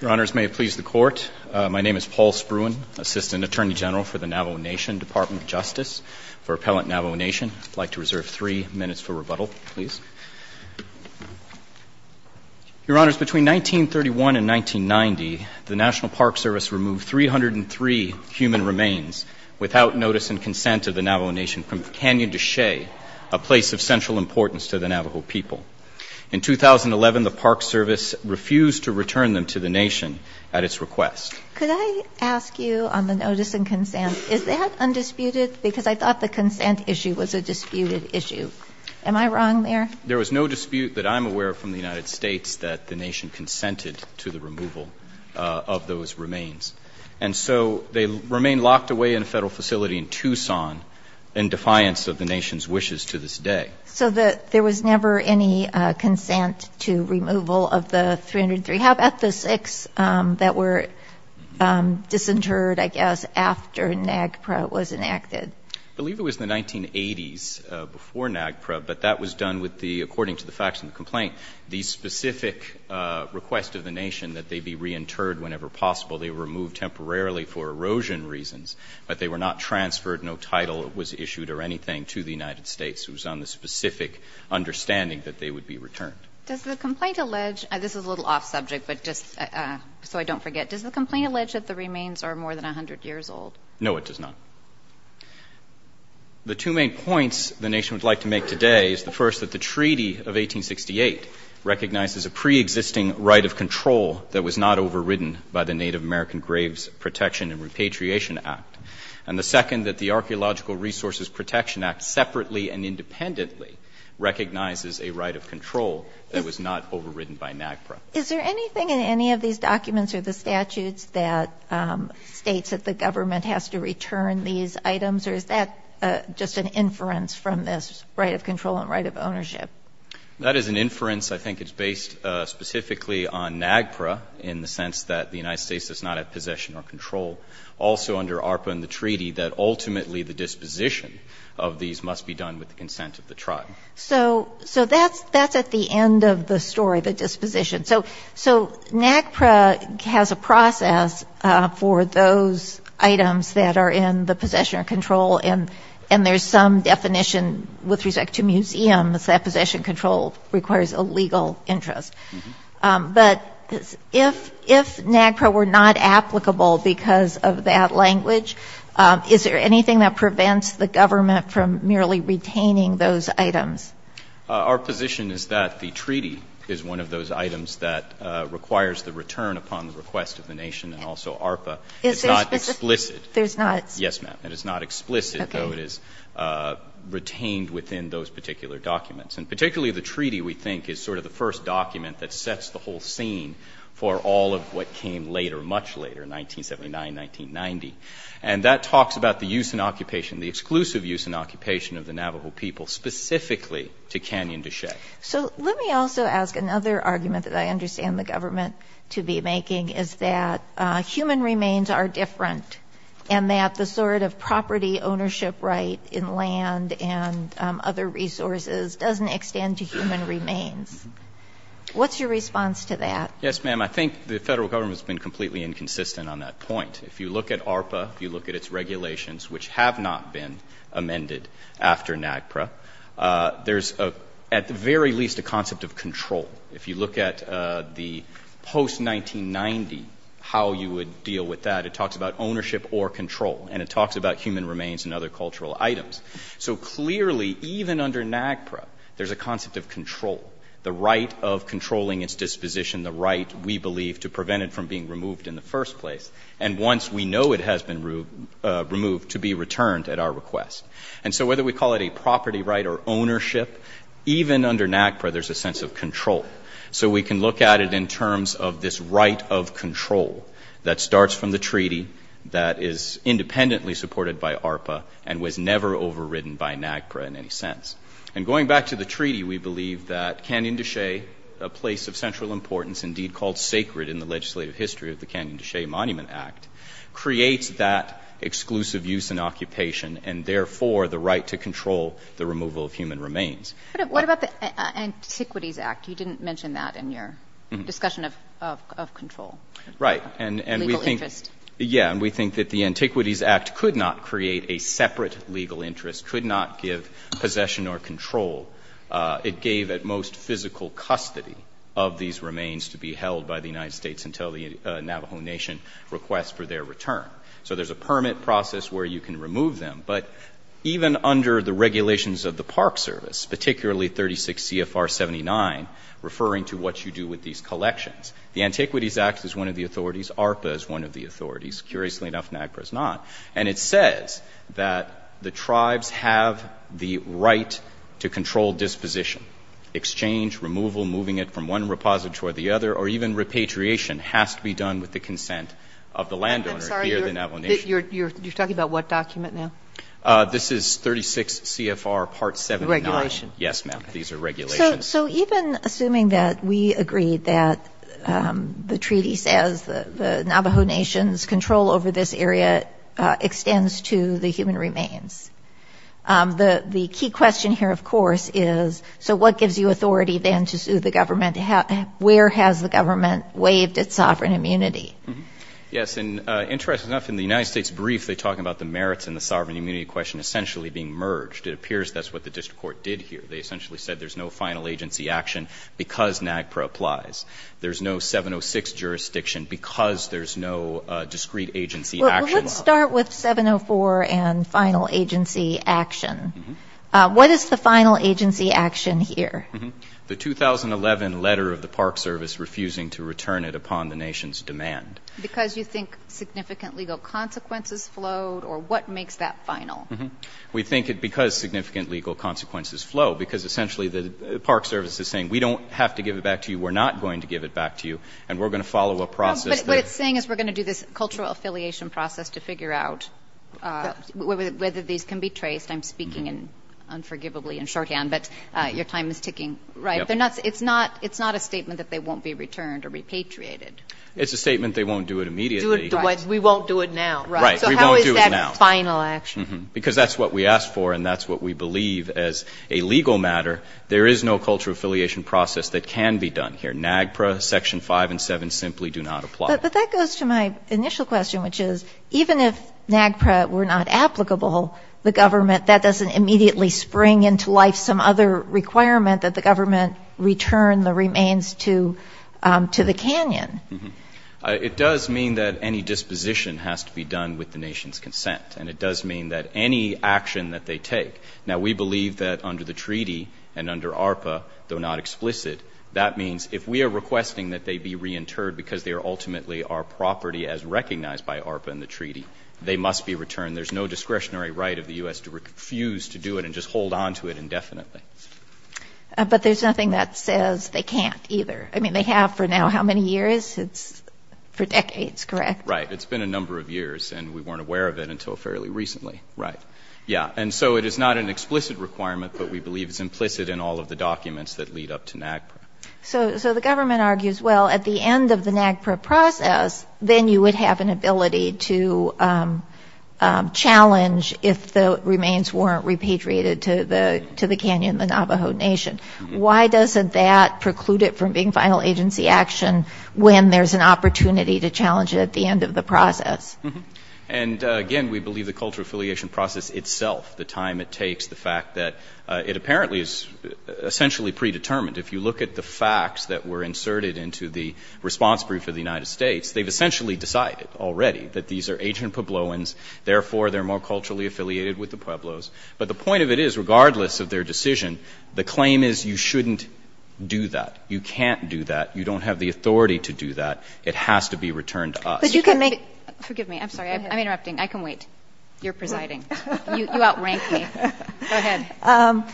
Your Honours, may it please the Court, my name is Paul Spruan, Assistant Attorney General for the Navajo Nation, Department of Justice for Appellant Navajo Nation. I'd like to reserve three minutes for rebuttal, please. Your Honours, between 1931 and 1990, the National Park Service removed 303 human remains without notice and consent of the Navajo Nation from Canyon de Chelly, a place of central importance to the Navajo people. In 2011, the Park Service refused to return them to the Nation at its request. Could I ask you, on the notice and consent, is that undisputed? Because I thought the consent issue was a disputed issue. Am I wrong there? There was no dispute that I'm aware of from the United States that the Nation consented to the removal of those remains. And so they remain locked away in a federal facility in Tucson in defiance of the Nation's wishes to this day. So there was never any consent to removal of the 303. How about the six that were disinterred, I guess, after NAGPRA was enacted? I believe it was the 1980s before NAGPRA, but that was done with the, according to the facts of the complaint, the specific request of the Nation that they be reinterred whenever possible. They were removed temporarily for erosion reasons, but they were not transferred, no title was issued or anything to the United States. It was on the specific understanding that they would be returned. Does the complaint allege, this is a little off subject, but just so I don't forget, does the complaint allege that the remains are more than 100 years old? No, it does not. The two main points the Nation would like to make today is the first, that the Treaty of 1868 recognizes a preexisting right of control that was not overridden by the Native American Graves Protection and Repatriation Act, and the second, that the Archaeological Resources Protection Act separately and independently recognizes a right of control that was not overridden by NAGPRA. Is there anything in any of these documents or the statutes that states that the government has to return these items, or is that just an inference from this right of control and right of ownership? That is an inference. I think it's based specifically on NAGPRA in the sense that the United States is not at possession or control. Also, under ARPA and the Treaty, that ultimately the disposition of these must be done with the consent of the tribe. So that's at the end of the story, the disposition. So NAGPRA has a process for those items that are in the possession or control, and there's some definition with respect to museums that possession control requires a legal interest. But if NAGPRA were not applicable because of that language, is there anything that prevents the government from merely retaining those items? Our position is that the Treaty is one of those items that requires the return upon the request of the nation and also ARPA. It's not explicit. There's not? Yes, ma'am. It is not explicit, though it is retained within those particular documents. And particularly the Treaty, we think, is sort of the first document that sets the whole scene for all of what came later, much later, 1979, 1990. And that talks about the use and occupation, the exclusive use and occupation of the Navajo people specifically to Canyon de Chelly. So let me also ask another argument that I understand the government to be making, is that human remains are different and that the sort of property ownership right in land and other resources doesn't extend to human remains. What's your response to that? Yes, ma'am. I think the Federal Government has been completely inconsistent on that point. If you look at ARPA, if you look at its regulations, which have not been amended after NAGPRA, there's at the very least a concept of control. If you look at the post-1990, how you would deal with that, it talks about ownership or control, and it talks about human remains and other cultural items. So clearly, even under NAGPRA, there's a concept of control, the right of controlling its disposition, the right, we believe, to prevent it from being removed in the first place, and once we know it has been removed, to be returned at our request. And so whether we call it a property right or ownership, even under NAGPRA, there's a sense of control. So we can look at it in terms of this right of control that starts from the Treaty that is independently supported by ARPA and was never overridden by NAGPRA in any sense. And going back to the Treaty, we believe that Canyon du Che, a place of central importance, indeed called sacred in the legislative history of the Canyon du Che Monument Act, creates that exclusive use and occupation, and therefore the right to control the removal of human remains. What about the Antiquities Act? You didn't mention that in your discussion of control. Right. Legal interest. Yeah, and we think that the Antiquities Act could not create a separate legal interest, could not give possession or control. It gave at most physical custody of these remains to be held by the United States until the Navajo Nation requests for their return. So there's a permit process where you can remove them, but even under the regulations of the Park Service, particularly 36 CFR 79, referring to what you do with these collections, the Antiquities Act is one of the authorities. ARPA is one of the authorities. Curiously enough, NAGPRA is not. And it says that the tribes have the right to control disposition. Exchange, removal, moving it from one repository to the other, or even repatriation has to be done with the consent of the landowner here at the Navajo Nation. I'm sorry. You're talking about what document now? This is 36 CFR Part 79. The regulation. Yes, ma'am. These are regulations. So even assuming that we agree that the treaty says the Navajo Nation's control over this area extends to the human remains, the key question here, of course, is, so what gives you authority then to sue the government? Where has the government waived its sovereign immunity? Yes, and interestingly enough, in the United States brief, they talk about the merits and the sovereign immunity question essentially being merged. It appears that's what the district court did here. They essentially said there's no final agency action because NAGPRA applies. There's no 706 jurisdiction because there's no discrete agency action. Well, let's start with 704 and final agency action. What is the final agency action here? The 2011 letter of the Park Service refusing to return it upon the Nation's demand. Because you think significant legal consequences flowed, or what makes that final? We think because significant legal consequences flow, because essentially the Park Service is saying, we don't have to give it back to you, we're not going to give it back to you, and we're going to follow a process. What it's saying is we're going to do this cultural affiliation process to figure out whether these can be traced. I'm speaking unforgivably in shorthand, but your time is ticking. It's not a statement that they won't be returned or repatriated. It's a statement they won't do it immediately. We won't do it now. Right. We won't do it now. That's the final action. Because that's what we asked for, and that's what we believe as a legal matter. There is no cultural affiliation process that can be done here. NAGPRA, Section 5 and 7 simply do not apply. But that goes to my initial question, which is, even if NAGPRA were not applicable, the government, that doesn't immediately spring into life some other requirement, that the government return the remains to the canyon. It does mean that any disposition has to be done with the nation's consent, and it does mean that any action that they take. Now, we believe that under the treaty and under ARPA, though not explicit, that means if we are requesting that they be reinterred because they are ultimately our property as recognized by ARPA in the treaty, they must be returned. There's no discretionary right of the U.S. to refuse to do it and just hold on to it indefinitely. But there's nothing that says they can't either. I mean, they have for now how many years? It's for decades, correct? Right. It's been a number of years, and we weren't aware of it until fairly recently. Right. Yeah. And so it is not an explicit requirement, but we believe it's implicit in all of the documents that lead up to NAGPRA. So the government argues, well, at the end of the NAGPRA process, then you would have an ability to challenge if the remains weren't repatriated to the canyon, the Navajo Nation. Why doesn't that preclude it from being final agency action when there's an opportunity to challenge it at the end of the process? And, again, we believe the cultural affiliation process itself, the time it takes, the fact that it apparently is essentially predetermined. If you look at the facts that were inserted into the response brief of the United States, they've essentially decided already that these are ancient Puebloans, therefore they're more culturally affiliated with the Pueblos. But the point of it is, regardless of their decision, the claim is you shouldn't do that. You can't do that. You don't have the authority to do that. It has to be returned to us. But you can make — Forgive me. I'm sorry. I'm interrupting. I can wait. You're presiding. You outrank me. Go ahead.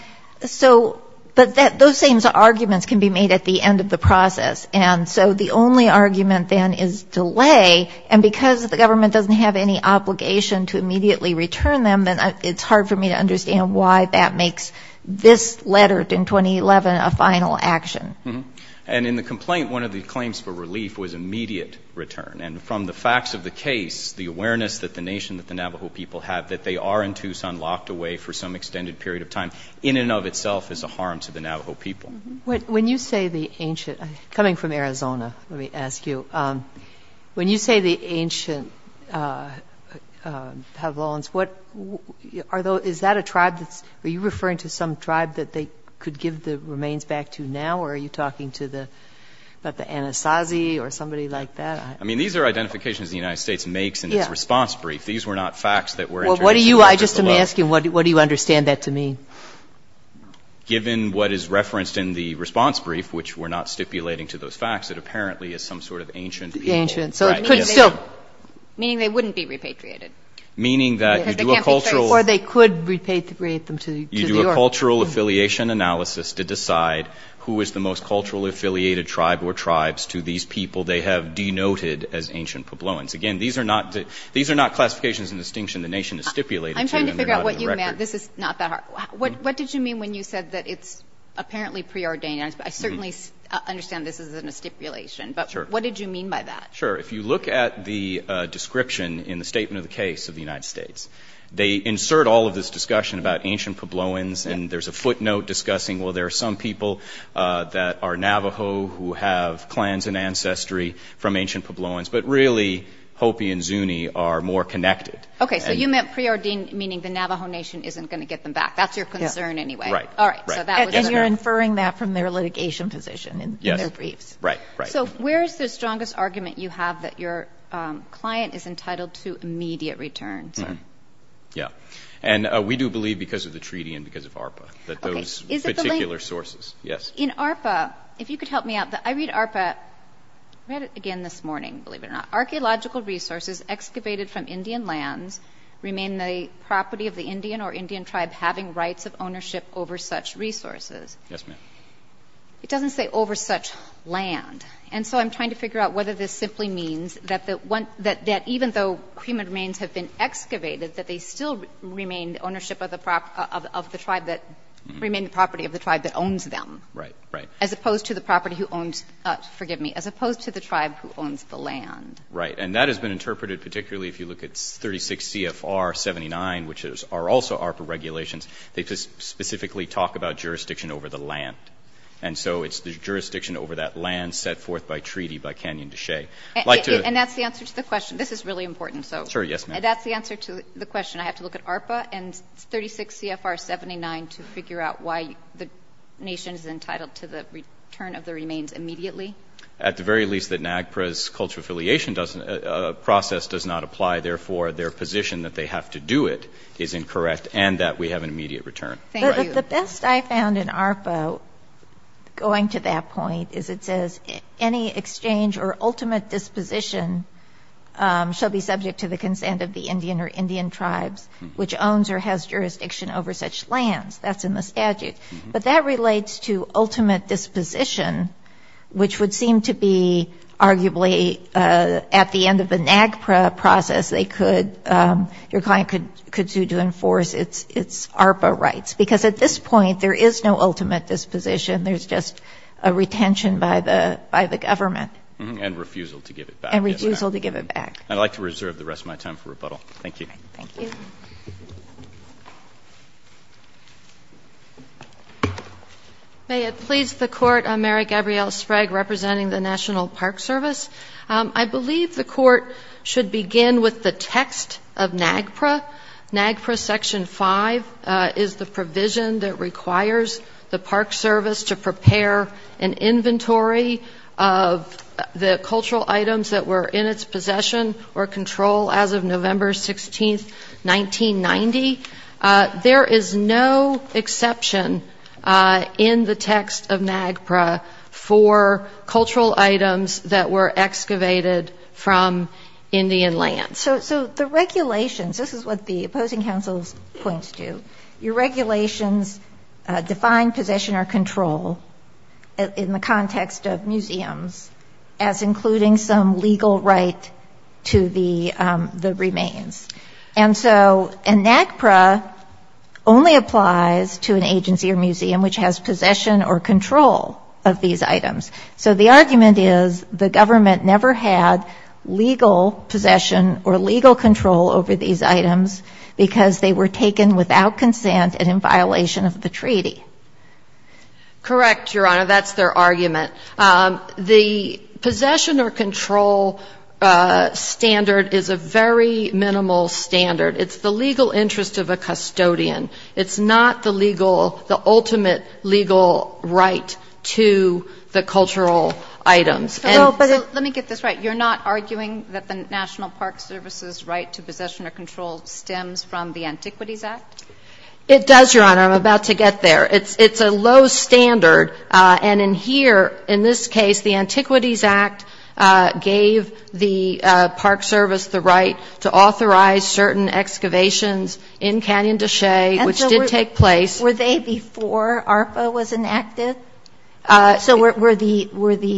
So — but those same arguments can be made at the end of the process. And so the only argument, then, is delay. And because the government doesn't have any obligation to immediately return them, then it's hard for me to understand why that makes this letter in 2011 a final action. And in the complaint, one of the claims for relief was immediate return. And from the facts of the case, the awareness that the nation, that the Navajo people have, that they are in Tucson locked away for some extended period of time, in and of itself is a harm to the Navajo people. When you say the ancient — coming from Arizona, let me ask you. When you say the ancient Pavlons, what — are those — is that a tribe that's — are you referring to some tribe that they could give the remains back to now, or are you talking to the — about the Anasazi or somebody like that? I mean, these are identifications the United States makes in its response brief. These were not facts that were — Well, what do you — I just am asking, what do you understand that to mean? Given what is referenced in the response brief, which we're not stipulating to those facts, it apparently is some sort of ancient people. Ancient. So it could still — Meaning they wouldn't be repatriated. Meaning that you do a cultural — Because they can't be traced. Or they could repatriate them to New York. You do a cultural affiliation analysis to decide who is the most culturally affiliated tribe or tribes to these people they have denoted as ancient Pavlons. Again, these are not — these are not classifications and distinctions the nation is stipulated to. I'm trying to figure out what you meant. This is not that hard. What did you mean when you said that it's apparently preordained? I certainly understand this isn't a stipulation. Sure. But what did you mean by that? Sure. If you look at the description in the statement of the case of the United States, they insert all of this discussion about ancient Pavlons, and there's a footnote discussing, well, there are some people that are Navajo who have clans and ancestry from ancient Pavlons, but really Hopi and Zuni are more connected. Okay. So you meant preordained, meaning the Navajo Nation isn't going to get them back. That's your concern anyway. Right. All right. And you're inferring that from their litigation position in their briefs. Yes. Right, right. So where is the strongest argument you have that your client is entitled to immediate return? Yeah. And we do believe, because of the treaty and because of ARPA, that those particular sources — Okay. Is it the — Yes. In ARPA, if you could help me out, I read ARPA — I read it again this morning, believe it or not. Archaeological resources excavated from Indian lands remain the property of the Indian or Indian tribe having rights of ownership over such resources. Yes, ma'am. It doesn't say over such land. And so I'm trying to figure out whether this simply means that even though cremated remains have been excavated, that they still remain the ownership of the tribe that — remain the property of the tribe that owns them. Right, right. As opposed to the property who owns — forgive me, as opposed to the tribe who owns the land. Right. And that has been interpreted particularly if you look at 36 CFR 79, which are also ARPA regulations. They specifically talk about jurisdiction over the land. And so it's the jurisdiction over that land set forth by treaty by Canyon Deshaies. I'd like to — And that's the answer to the question. This is really important, so — Sure. Yes, ma'am. That's the answer to the question. I have to look at ARPA and 36 CFR 79 to figure out why the nation is entitled to the return of the remains immediately? At the very least, the NAGPRA's cultural affiliation process does not apply. Therefore, their position that they have to do it is incorrect and that we have an immediate return. Thank you. But the best I found in ARPA, going to that point, is it says any exchange or ultimate disposition shall be subject to the consent of the Indian or Indian tribes, which owns or has jurisdiction over such lands. That's in the statute. But that relates to ultimate disposition, which would seem to be arguably at the end of the NAGPRA process, they could — your client could sue to enforce its ARPA rights. Because at this point, there is no ultimate disposition. There's just a retention by the government. And refusal to give it back. And refusal to give it back. I'd like to reserve the rest of my time for rebuttal. Thank you. Thank you. May it please the Court, I'm Mary Gabrielle Sprague, representing the National Park Service. I believe the Court should begin with the text of NAGPRA. NAGPRA Section 5 is the provision that requires the Park Service to prepare an inventory of the cultural items that were in its possession or control as of November 16th, 1986. 1990. There is no exception in the text of NAGPRA for cultural items that were excavated from Indian lands. So the regulations — this is what the opposing counsel's points do. Your regulations define possession or control in the context of museums as including some legal right to the remains. And so NAGPRA only applies to an agency or museum which has possession or control of these items. So the argument is the government never had legal possession or legal control over these items because they were taken without consent and in violation of the treaty. Correct, Your Honor. That's their argument. The possession or control standard is a very minimal standard. It's the legal interest of a custodian. It's not the legal — the ultimate legal right to the cultural items. So let me get this right. You're not arguing that the National Park Service's right to possession or control stems from the Antiquities Act? It does, Your Honor. I'm about to get there. It's a low standard. And in here, in this case, the Antiquities Act gave the Park Service the right to authorize certain excavations in Canyon de Chelly, which did take place. And so were they before ARPA was enacted? So were the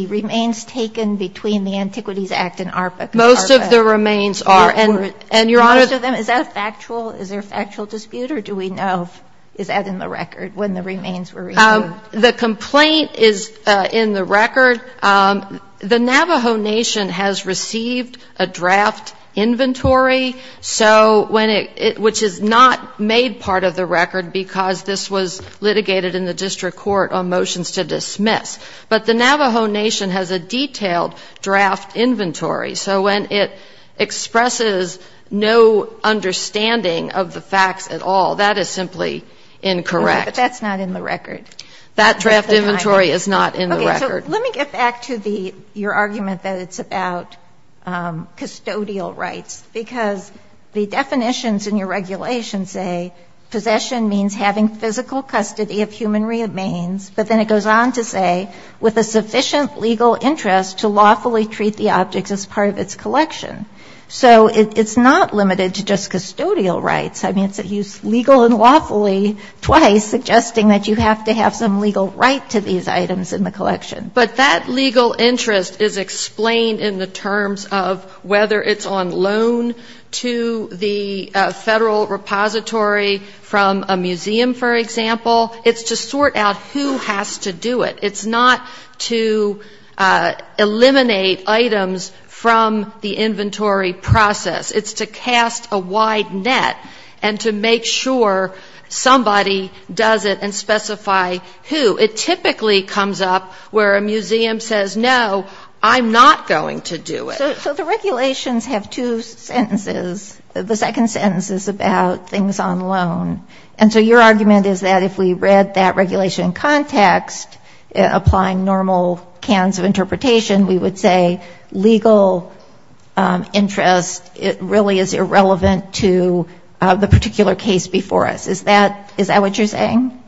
remains taken between the Antiquities Act and ARPA? Most of the remains are. And, Your Honor — For most of them? Is that factual? Is there a factual dispute? Or do we know — is that in the record when the remains were removed? The complaint is in the record. The Navajo Nation has received a draft inventory, so when it — which is not made part of the record because this was litigated in the district court on motions to dismiss. But the Navajo Nation has a detailed draft inventory. So when it expresses no understanding of the facts at all, that is simply incorrect. Okay. But that's not in the record. That draft inventory is not in the record. Okay. So let me get back to the — your argument that it's about custodial rights, because the definitions in your regulation say possession means having physical custody of human remains. But then it goes on to say, with a sufficient legal interest to lawfully treat the objects as part of its collection. So it's not limited to just custodial rights. I mean, it's legal and lawfully twice suggesting that you have to have some legal right to these items in the collection. But that legal interest is explained in the terms of whether it's on loan to the federal repository from a museum, for example. It's to sort out who has to do it. It's not to eliminate items from the inventory process. It's to cast a wide net and to make sure somebody does it and specify who. It typically comes up where a museum says, no, I'm not going to do it. So the regulations have two sentences. The second sentence is about things on loan. And so your argument is that if we read that regulation in context, applying normal cans of interpretation, we would say legal interest really is irrelevant to the particular case before us. Is that what you're saying?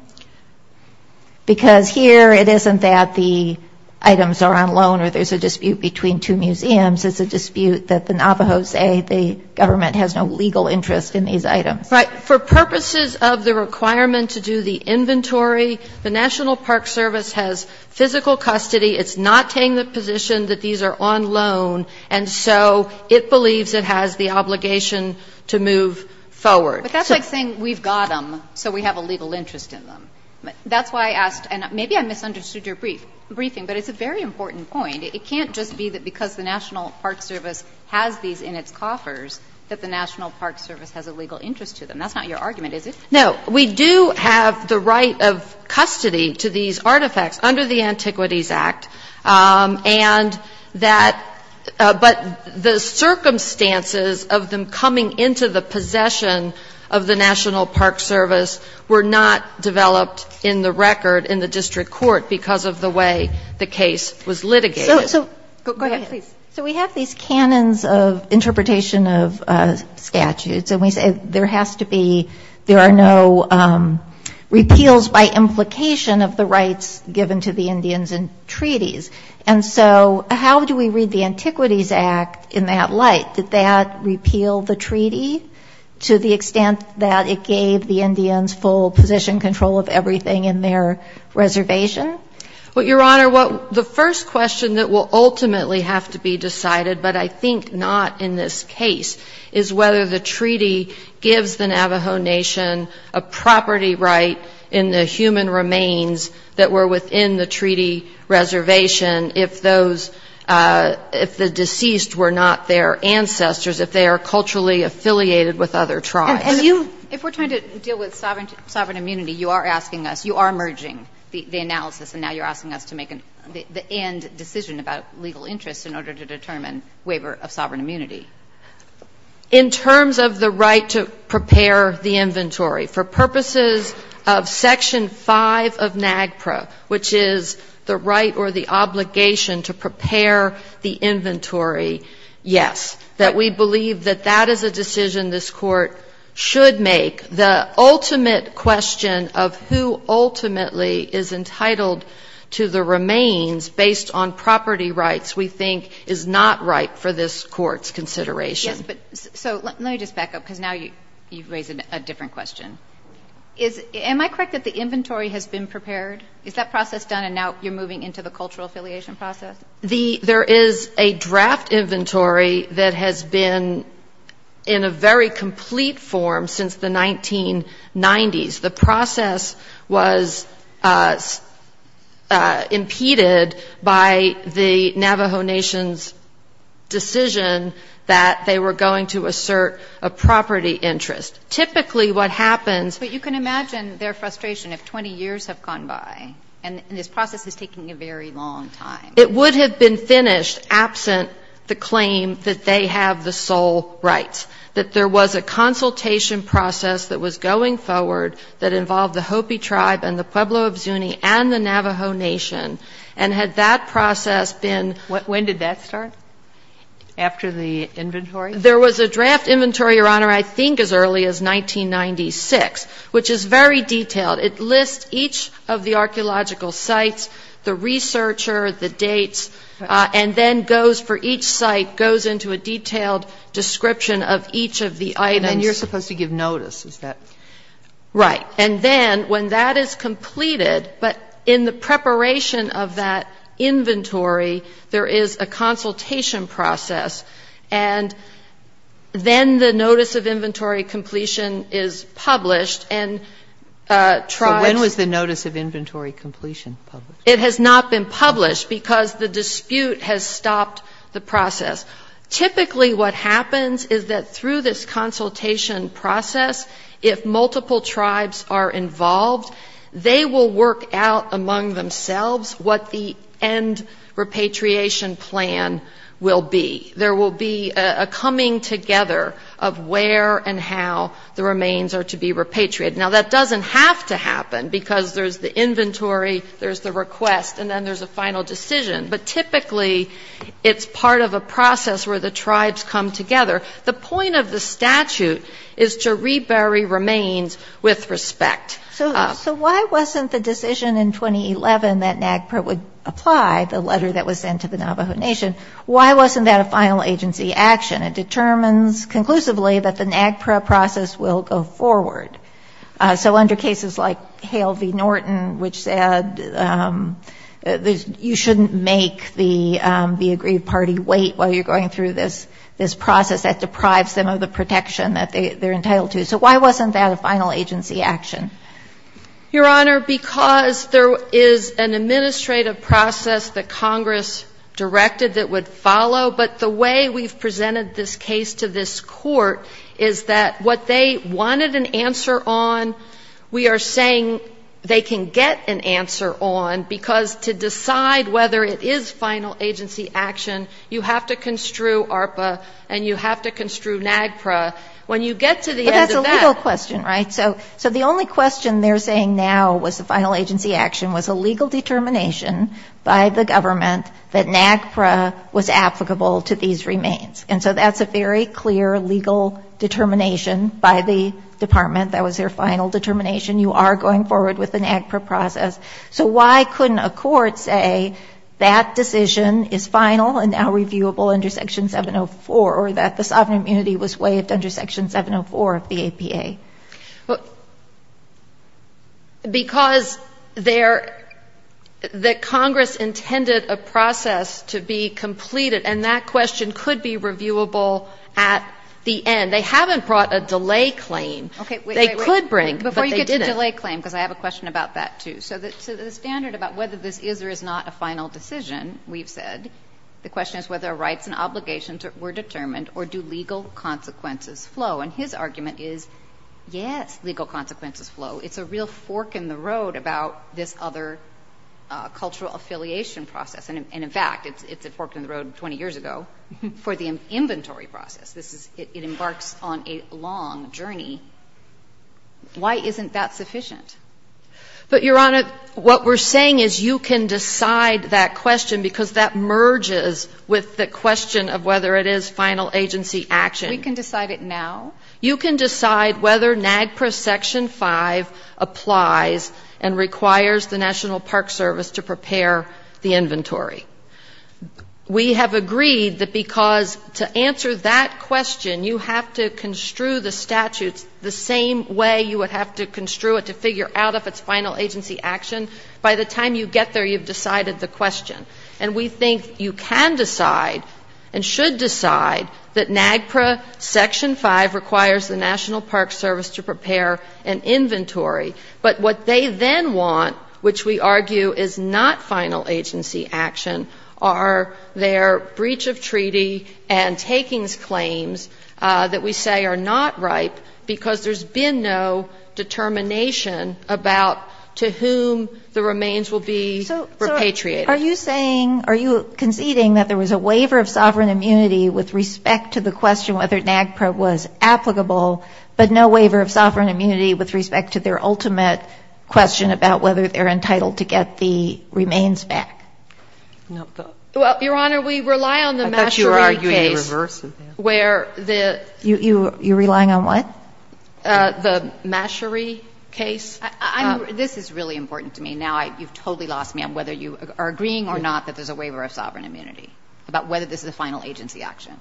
Because here it isn't that the items are on loan or there's a dispute between two museums. It's a dispute that the Navajos say the government has no legal interest in these items. Right. For purposes of the requirement to do the inventory, the National Park Service has physical custody. It's not taking the position that these are on loan. And so it believes it has the obligation to move forward. But that's like saying we've got them, so we have a legal interest in them. That's why I asked, and maybe I misunderstood your briefing, but it's a very important point. It can't just be that because the National Park Service has these in its coffers that the National Park Service has a legal interest to them. That's not your argument, is it? No. We do have the right of custody to these artifacts under the Antiquities Act, and that the circumstances of them coming into the possession of the National Park Service were not developed in the record in the district court because of the way the case was litigated. Go ahead, please. So we have these canons of interpretation of statutes, and we say there has to be – there are no repeals by implication of the rights given to the Indians in treaties. And so how do we read the Antiquities Act in that light? Did that repeal the treaty to the extent that it gave the Indians full position control of everything in their reservation? Well, Your Honor, the first question that will ultimately have to be decided, but I think not in this case, is whether the treaty gives the Navajo Nation a property right in the human remains that were within the treaty reservation if those – if the deceased were not their ancestors, if they are culturally affiliated with other tribes. And you – if we're trying to deal with sovereign immunity, you are asking us, you are merging the analysis, and now you're asking us to make the end decision about legal interest in order to determine waiver of sovereign immunity. In terms of the right to prepare the inventory, for purposes of Section 5 of NAGPRA, which is the right or the obligation to prepare the inventory, yes, that we believe that that is a decision this Court should make. The ultimate question of who ultimately is entitled to the remains based on property rights we think is not right for this Court's consideration. Yes, but – so let me just back up, because now you've raised a different question. Is – am I correct that the inventory has been prepared? Is that process done, and now you're moving into the cultural affiliation process? There is a draft inventory that has been in a very complete form since the 1990s. The process was impeded by the Navajo Nation's decision that they were going to assert a property interest. Typically what happens – But you can imagine their frustration if 20 years have gone by, and this process is taking a very long time. It would have been finished absent the claim that they have the sole rights, that there was a consultation process that was going forward that involved the Hopi Tribe and the Pueblo of Zuni and the Navajo Nation, and had that process been – When did that start, after the inventory? There was a draft inventory, Your Honor, I think as early as 1996, which is very detailed. It lists each of the archaeological sites, the researcher, the dates, and then goes for each site, goes into a detailed description of each of the items. And then you're supposed to give notice, is that – Right. And then when that is completed, but in the preparation of that inventory, there is a consultation process, and then the notice of inventory completion is published, and tribes – So when was the notice of inventory completion published? It has not been published because the dispute has stopped the process. Typically what happens is that through this consultation process, if multiple tribes are involved, they will work out among themselves what the end repatriation plan will be. There will be a coming together of where and how the remains are to be repatriated. Now, that doesn't have to happen because there's the inventory, there's the request, and then there's a final decision. But typically it's part of a process where the tribes come together. The point of the statute is to rebury remains with respect. So why wasn't the decision in 2011 that NAGPRA would apply the letter that was sent to the Navajo Nation, why wasn't that a final agency action? It determines conclusively that the NAGPRA process will go forward. So under cases like Hale v. Norton, which said you shouldn't make the aggrieved party wait while you're going through this process, that deprives them of the protection that they're entitled to. So why wasn't that a final agency action? Your Honor, because there is an administrative process that Congress directed that would follow. But the way we've presented this case to this Court is that what they wanted an answer on, we are saying they can get an answer on, because to decide whether it is final agency action, you have to construe ARPA and you have to construe NAGPRA. When you get to the end of that ---- But that's a legal question, right? So the only question they're saying now was the final agency action was a legal determination by the government that NAGPRA was applicable to these remains. And so that's a very clear legal determination by the Department. That was their final determination. You are going forward with the NAGPRA process. So why couldn't a court say that decision is final and now reviewable under Section 704, or that the sovereign immunity was waived under Section 704 of the APA? Because there ---- that Congress intended a process to be completed, and that question could be reviewable at the end. They haven't brought a delay claim. They could bring, but they didn't. Okay, wait, wait, wait. Before you get to the delay claim, because I have a question about that, too. So the standard about whether this is or is not a final decision, we've said, the rights and obligations were determined, or do legal consequences flow? And his argument is, yes, legal consequences flow. It's a real fork in the road about this other cultural affiliation process. And in fact, it's a fork in the road 20 years ago for the inventory process. This is ---- it embarks on a long journey. Why isn't that sufficient? But, Your Honor, what we're saying is you can decide that question because that merges with the question of whether it is final agency action. We can decide it now? You can decide whether NAGPRA Section 5 applies and requires the National Park Service to prepare the inventory. We have agreed that because to answer that question, you have to construe the statutes the same way you would have to construe it to figure out if it's final agency action. By the time you get there, you've decided the question. And we think you can decide and should decide that NAGPRA Section 5 requires the National Park Service to prepare an inventory. But what they then want, which we argue is not final agency action, are their breach of treaty and takings claims that we say are not ripe because there's been no determination about to whom the remains will be repatriated. Are you saying, are you conceding that there was a waiver of sovereign immunity with respect to the question whether NAGPRA was applicable, but no waiver of sovereign immunity with respect to their ultimate question about whether they're entitled to get the remains back? Well, Your Honor, we rely on the Mashery case. I thought you were arguing the reverse of that. You're relying on what? The Mashery case. I mean, this is really important to me. Now you've totally lost me on whether you are agreeing or not that there's a waiver of sovereign immunity, about whether this is a final agency action.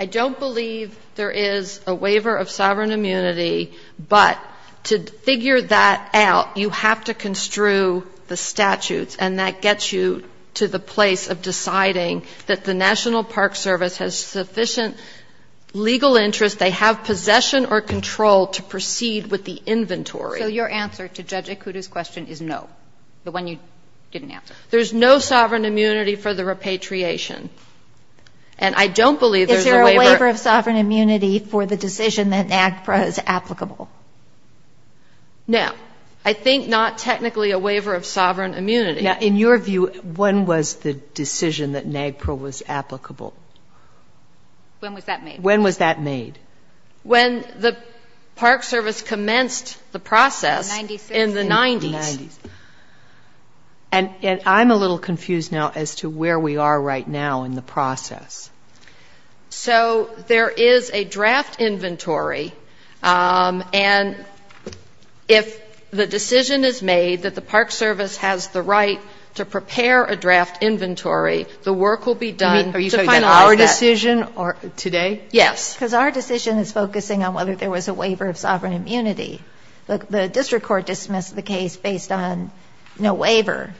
I don't believe there is a waiver of sovereign immunity, but to figure that out, you have to construe the statutes, and that gets you to the place of deciding that the National Park Service has sufficient legal interest, they have possession or control to proceed with the inventory. So your answer to Judge Ikuto's question is no, the one you didn't answer. There's no sovereign immunity for the repatriation. And I don't believe there's a waiver. Is there a waiver of sovereign immunity for the decision that NAGPRA is applicable? No. I think not technically a waiver of sovereign immunity. Now, in your view, when was the decision that NAGPRA was applicable? When was that made? When was that made? When the Park Service commenced the process in the 90s. In the 90s. And I'm a little confused now as to where we are right now in the process. So there is a draft inventory, and if the decision is made that the Park Service has the right to prepare a draft inventory, the work will be done to finalize that. Are you saying that our decision today? Yes. Because our decision is focusing on whether there was a waiver of sovereign immunity. The district court dismissed the case based on no waiver,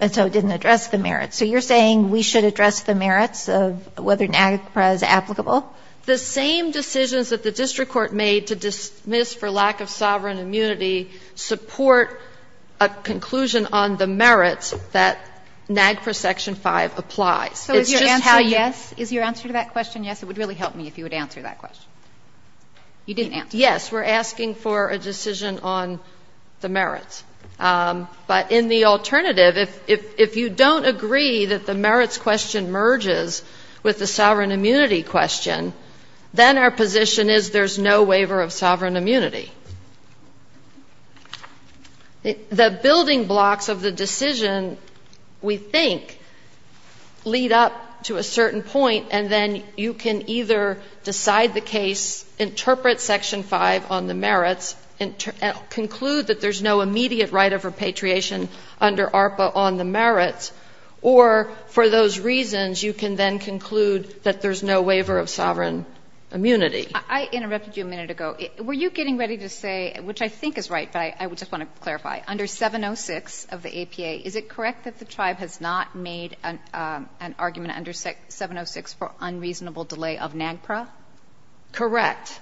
and so it didn't address the merits. So you're saying we should address the merits of whether NAGPRA is applicable? The same decisions that the district court made to dismiss for lack of sovereign immunity support a conclusion on the merits that NAGPRA Section 5 applies. It's just how you ---- So is your answer yes? Is your answer to that question yes? It would really help me if you would answer that question. You didn't answer it. Yes. We're asking for a decision on the merits. But in the alternative, if you don't agree that the merits question merges with the sovereign immunity question, then our position is there's no waiver of sovereign immunity. The building blocks of the decision, we think, lead up to a certain point, and then you can either decide the case, interpret Section 5 on the merits, and conclude that there's no immediate right of repatriation under ARPA on the merits, or for those reasons, you can then conclude that there's no waiver of sovereign immunity. I interrupted you a minute ago. Were you getting ready to say, which I think is right, but I just want to clarify, under 706 of the APA, is it correct that the tribe has not made an argument under 706 for unreasonable delay of NAGPRA? Correct.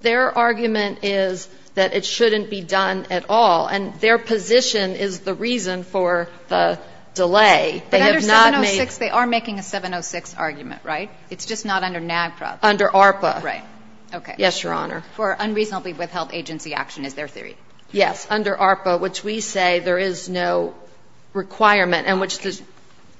Their argument is that it shouldn't be done at all. And their position is the reason for the delay. They have not made the argument. But under 706, they are making a 706 argument, right? It's just not under NAGPRA. Under ARPA. Right. Okay. Yes, Your Honor. For unreasonably withheld agency action is their theory. Yes. Under ARPA, which we say there is no requirement, and which the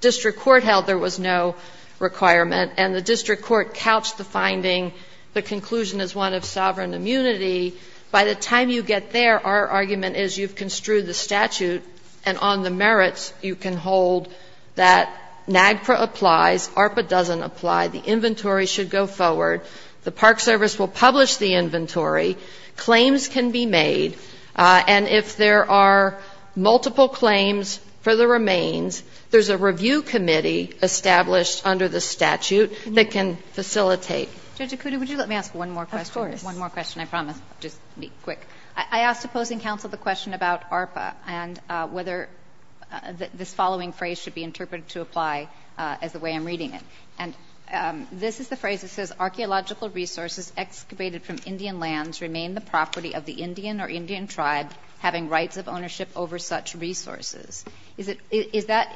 district court held there was no requirement, and the district court couched the finding, the conclusion is one of sovereign immunity, by the time you get there, our argument is you've construed the statute, and on the merits, you can hold that NAGPRA applies, ARPA doesn't apply, the inventory should go forward, the Park Service will publish the inventory, claims can be made, and if there are multiple claims for the remains, there's a review committee established under the statute that can facilitate. Judge Akutu, would you let me ask one more question? Of course. One more question, I promise. I'll just be quick. I asked opposing counsel the question about ARPA and whether this following phrase should be interpreted to apply as the way I'm reading it. And this is the phrase that says, Archaeological resources excavated from Indian lands remain the property of the land. Is that ownership over such resources? Does that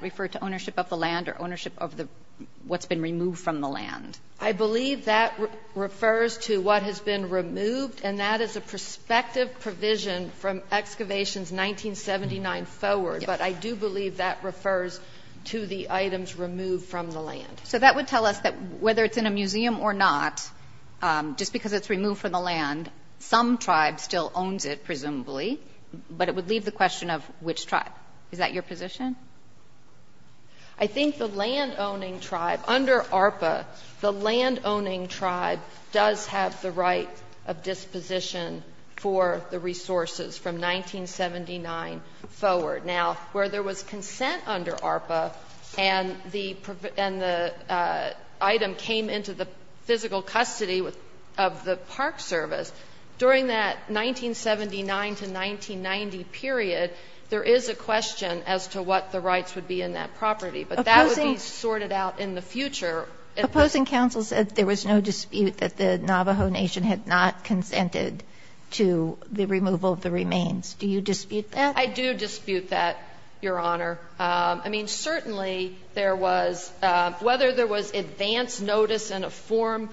refer to ownership of the land or ownership of what's been removed from the land? I believe that refers to what has been removed, and that is a prospective provision from excavations 1979 forward. But I do believe that refers to the items removed from the land. So that would tell us that whether it's in a museum or not, just because it's presumably, but it would leave the question of which tribe. Is that your position? I think the landowning tribe under ARPA, the landowning tribe does have the right of disposition for the resources from 1979 forward. Now, where there was consent under ARPA and the item came into the physical custody of the Park Service, during that 1979 to 1990 period, there is a question as to what the rights would be in that property. But that would be sorted out in the future. Opposing counsel said there was no dispute that the Navajo Nation had not consented to the removal of the remains. Do you dispute that? I do dispute that, Your Honor. Certainly, whether there was advance notice in a form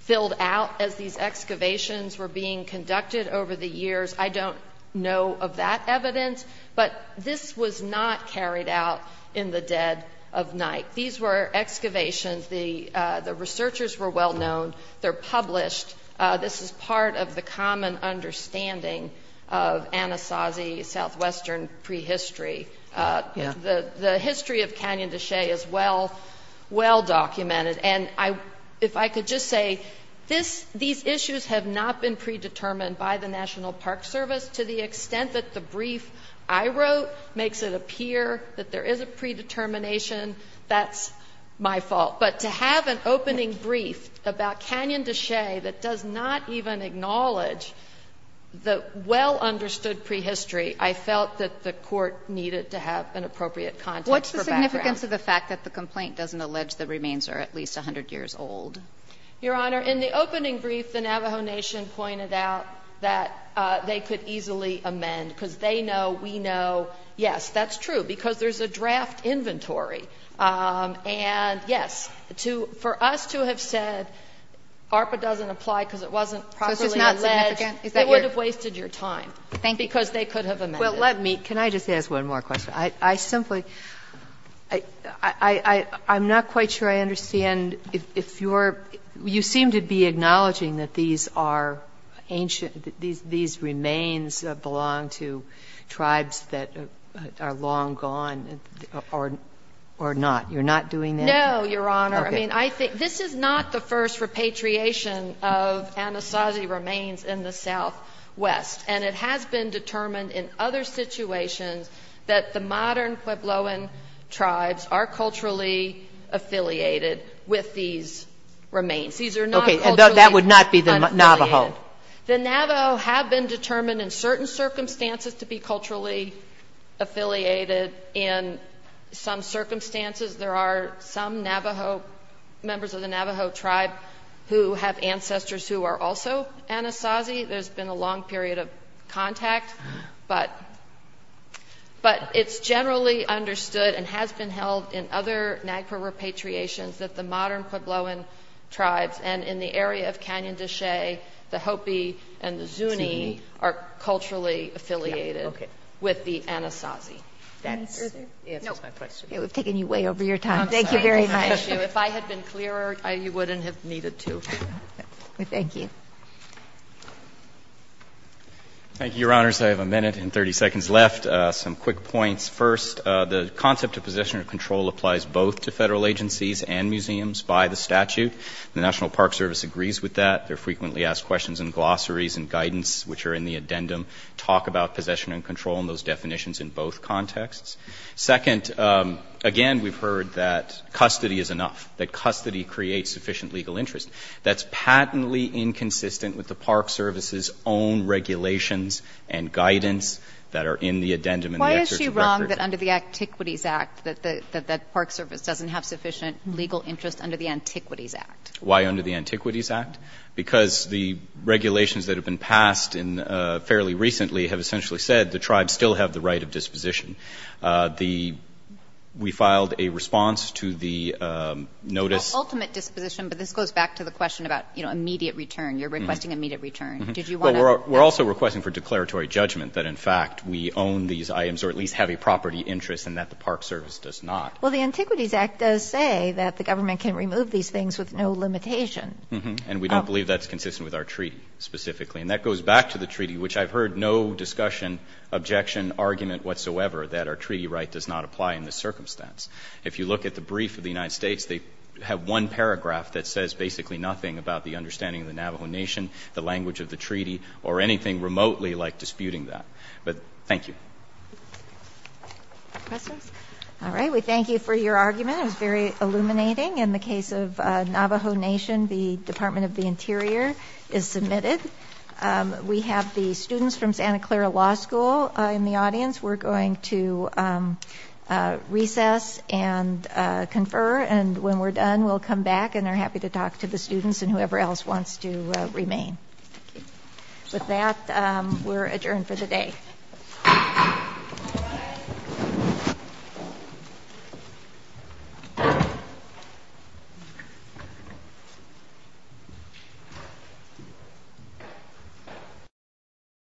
filled out as these excavations were being conducted over the years, I don't know of that evidence. But this was not carried out in the dead of night. These were excavations. They're published. This is part of the common understanding of Anasazi Southwestern prehistory. The history of Canyon de Chelly is well documented. And if I could just say, these issues have not been predetermined by the National Park Service to the extent that the brief I wrote makes it appear that there is a predetermination. That's my fault. But to have an opening brief about Canyon de Chelly that does not even acknowledge the well-understood prehistory, I felt that the Court needed to have an appropriate context for background. What's the significance of the fact that the complaint doesn't allege the remains are at least 100 years old? Your Honor, in the opening brief, the Navajo Nation pointed out that they could easily amend, because they know, we know, yes, that's true, because there's a draft inventory. And, yes, for us to have said ARPA doesn't apply because it wasn't properly alleged, they would have wasted your time. Thank you. Because they could have amended it. Well, let me, can I just ask one more question? I simply, I'm not quite sure I understand if you're, you seem to be acknowledging that these are ancient, these remains belong to tribes that are long gone or not. You're not doing that? No, Your Honor. I mean, I think, this is not the first repatriation of Anasazi remains in the southwest. And it has been determined in other situations that the modern Puebloan tribes are culturally affiliated with these remains. These are not culturally affiliated. Okay. And that would not be the Navajo? The Navajo have been determined in certain circumstances to be culturally affiliated. In some circumstances, there are some Navajo, members of the Navajo tribe who have ancestors who are also Anasazi. There's been a long period of contact. But it's generally understood and has been held in other NAGPRA repatriations that the modern Puebloan tribes and in the area of Canyon de Chelly, the Hopi and the Zuni are culturally affiliated with the Anasazi. That answers my question. It would have taken you way over your time. Thank you very much. If I had been clearer, you wouldn't have needed to. Thank you. Thank you, Your Honors. I have a minute and 30 seconds left. Some quick points. First, the concept of possession and control applies both to Federal agencies and museums by the statute. The National Park Service agrees with that. They're frequently asked questions in glossaries and guidance, which are in the addendum, talk about possession and control and those definitions in both contexts. Second, again, we've heard that custody is enough, that custody creates sufficient legal interest. That's patently inconsistent with the Park Service's own regulations and guidance that are in the addendum. Why is she wrong that under the Antiquities Act that the Park Service doesn't have sufficient legal interest under the Antiquities Act? Why under the Antiquities Act? Because the regulations that have been passed fairly recently have essentially said the tribes still have the right of disposition. We filed a response to the notice. Ultimate disposition, but this goes back to the question about immediate return. You're requesting immediate return. Did you want to? Well, we're also requesting for declaratory judgment that in fact we own these items or at least have a property interest and that the Park Service does not. Well, the Antiquities Act does say that the government can remove these things with no limitation. And we don't believe that's consistent with our treaty specifically. And that goes back to the treaty, which I've heard no discussion, objection, argument whatsoever that our treaty right does not apply in this circumstance. If you look at the brief of the United States, they have one paragraph that says basically nothing about the understanding of the Navajo Nation, the language of the treaty, or anything remotely like disputing that. But thank you. Questions? All right. We thank you for your argument. It was very illuminating. In the case of Navajo Nation, the Department of the Interior is submitted. We have the students from Santa Clara Law School in the audience. We're going to recess and confer. And when we're done, we'll come back and are happy to talk to the students and whoever else wants to remain. With that, we're adjourned for the day.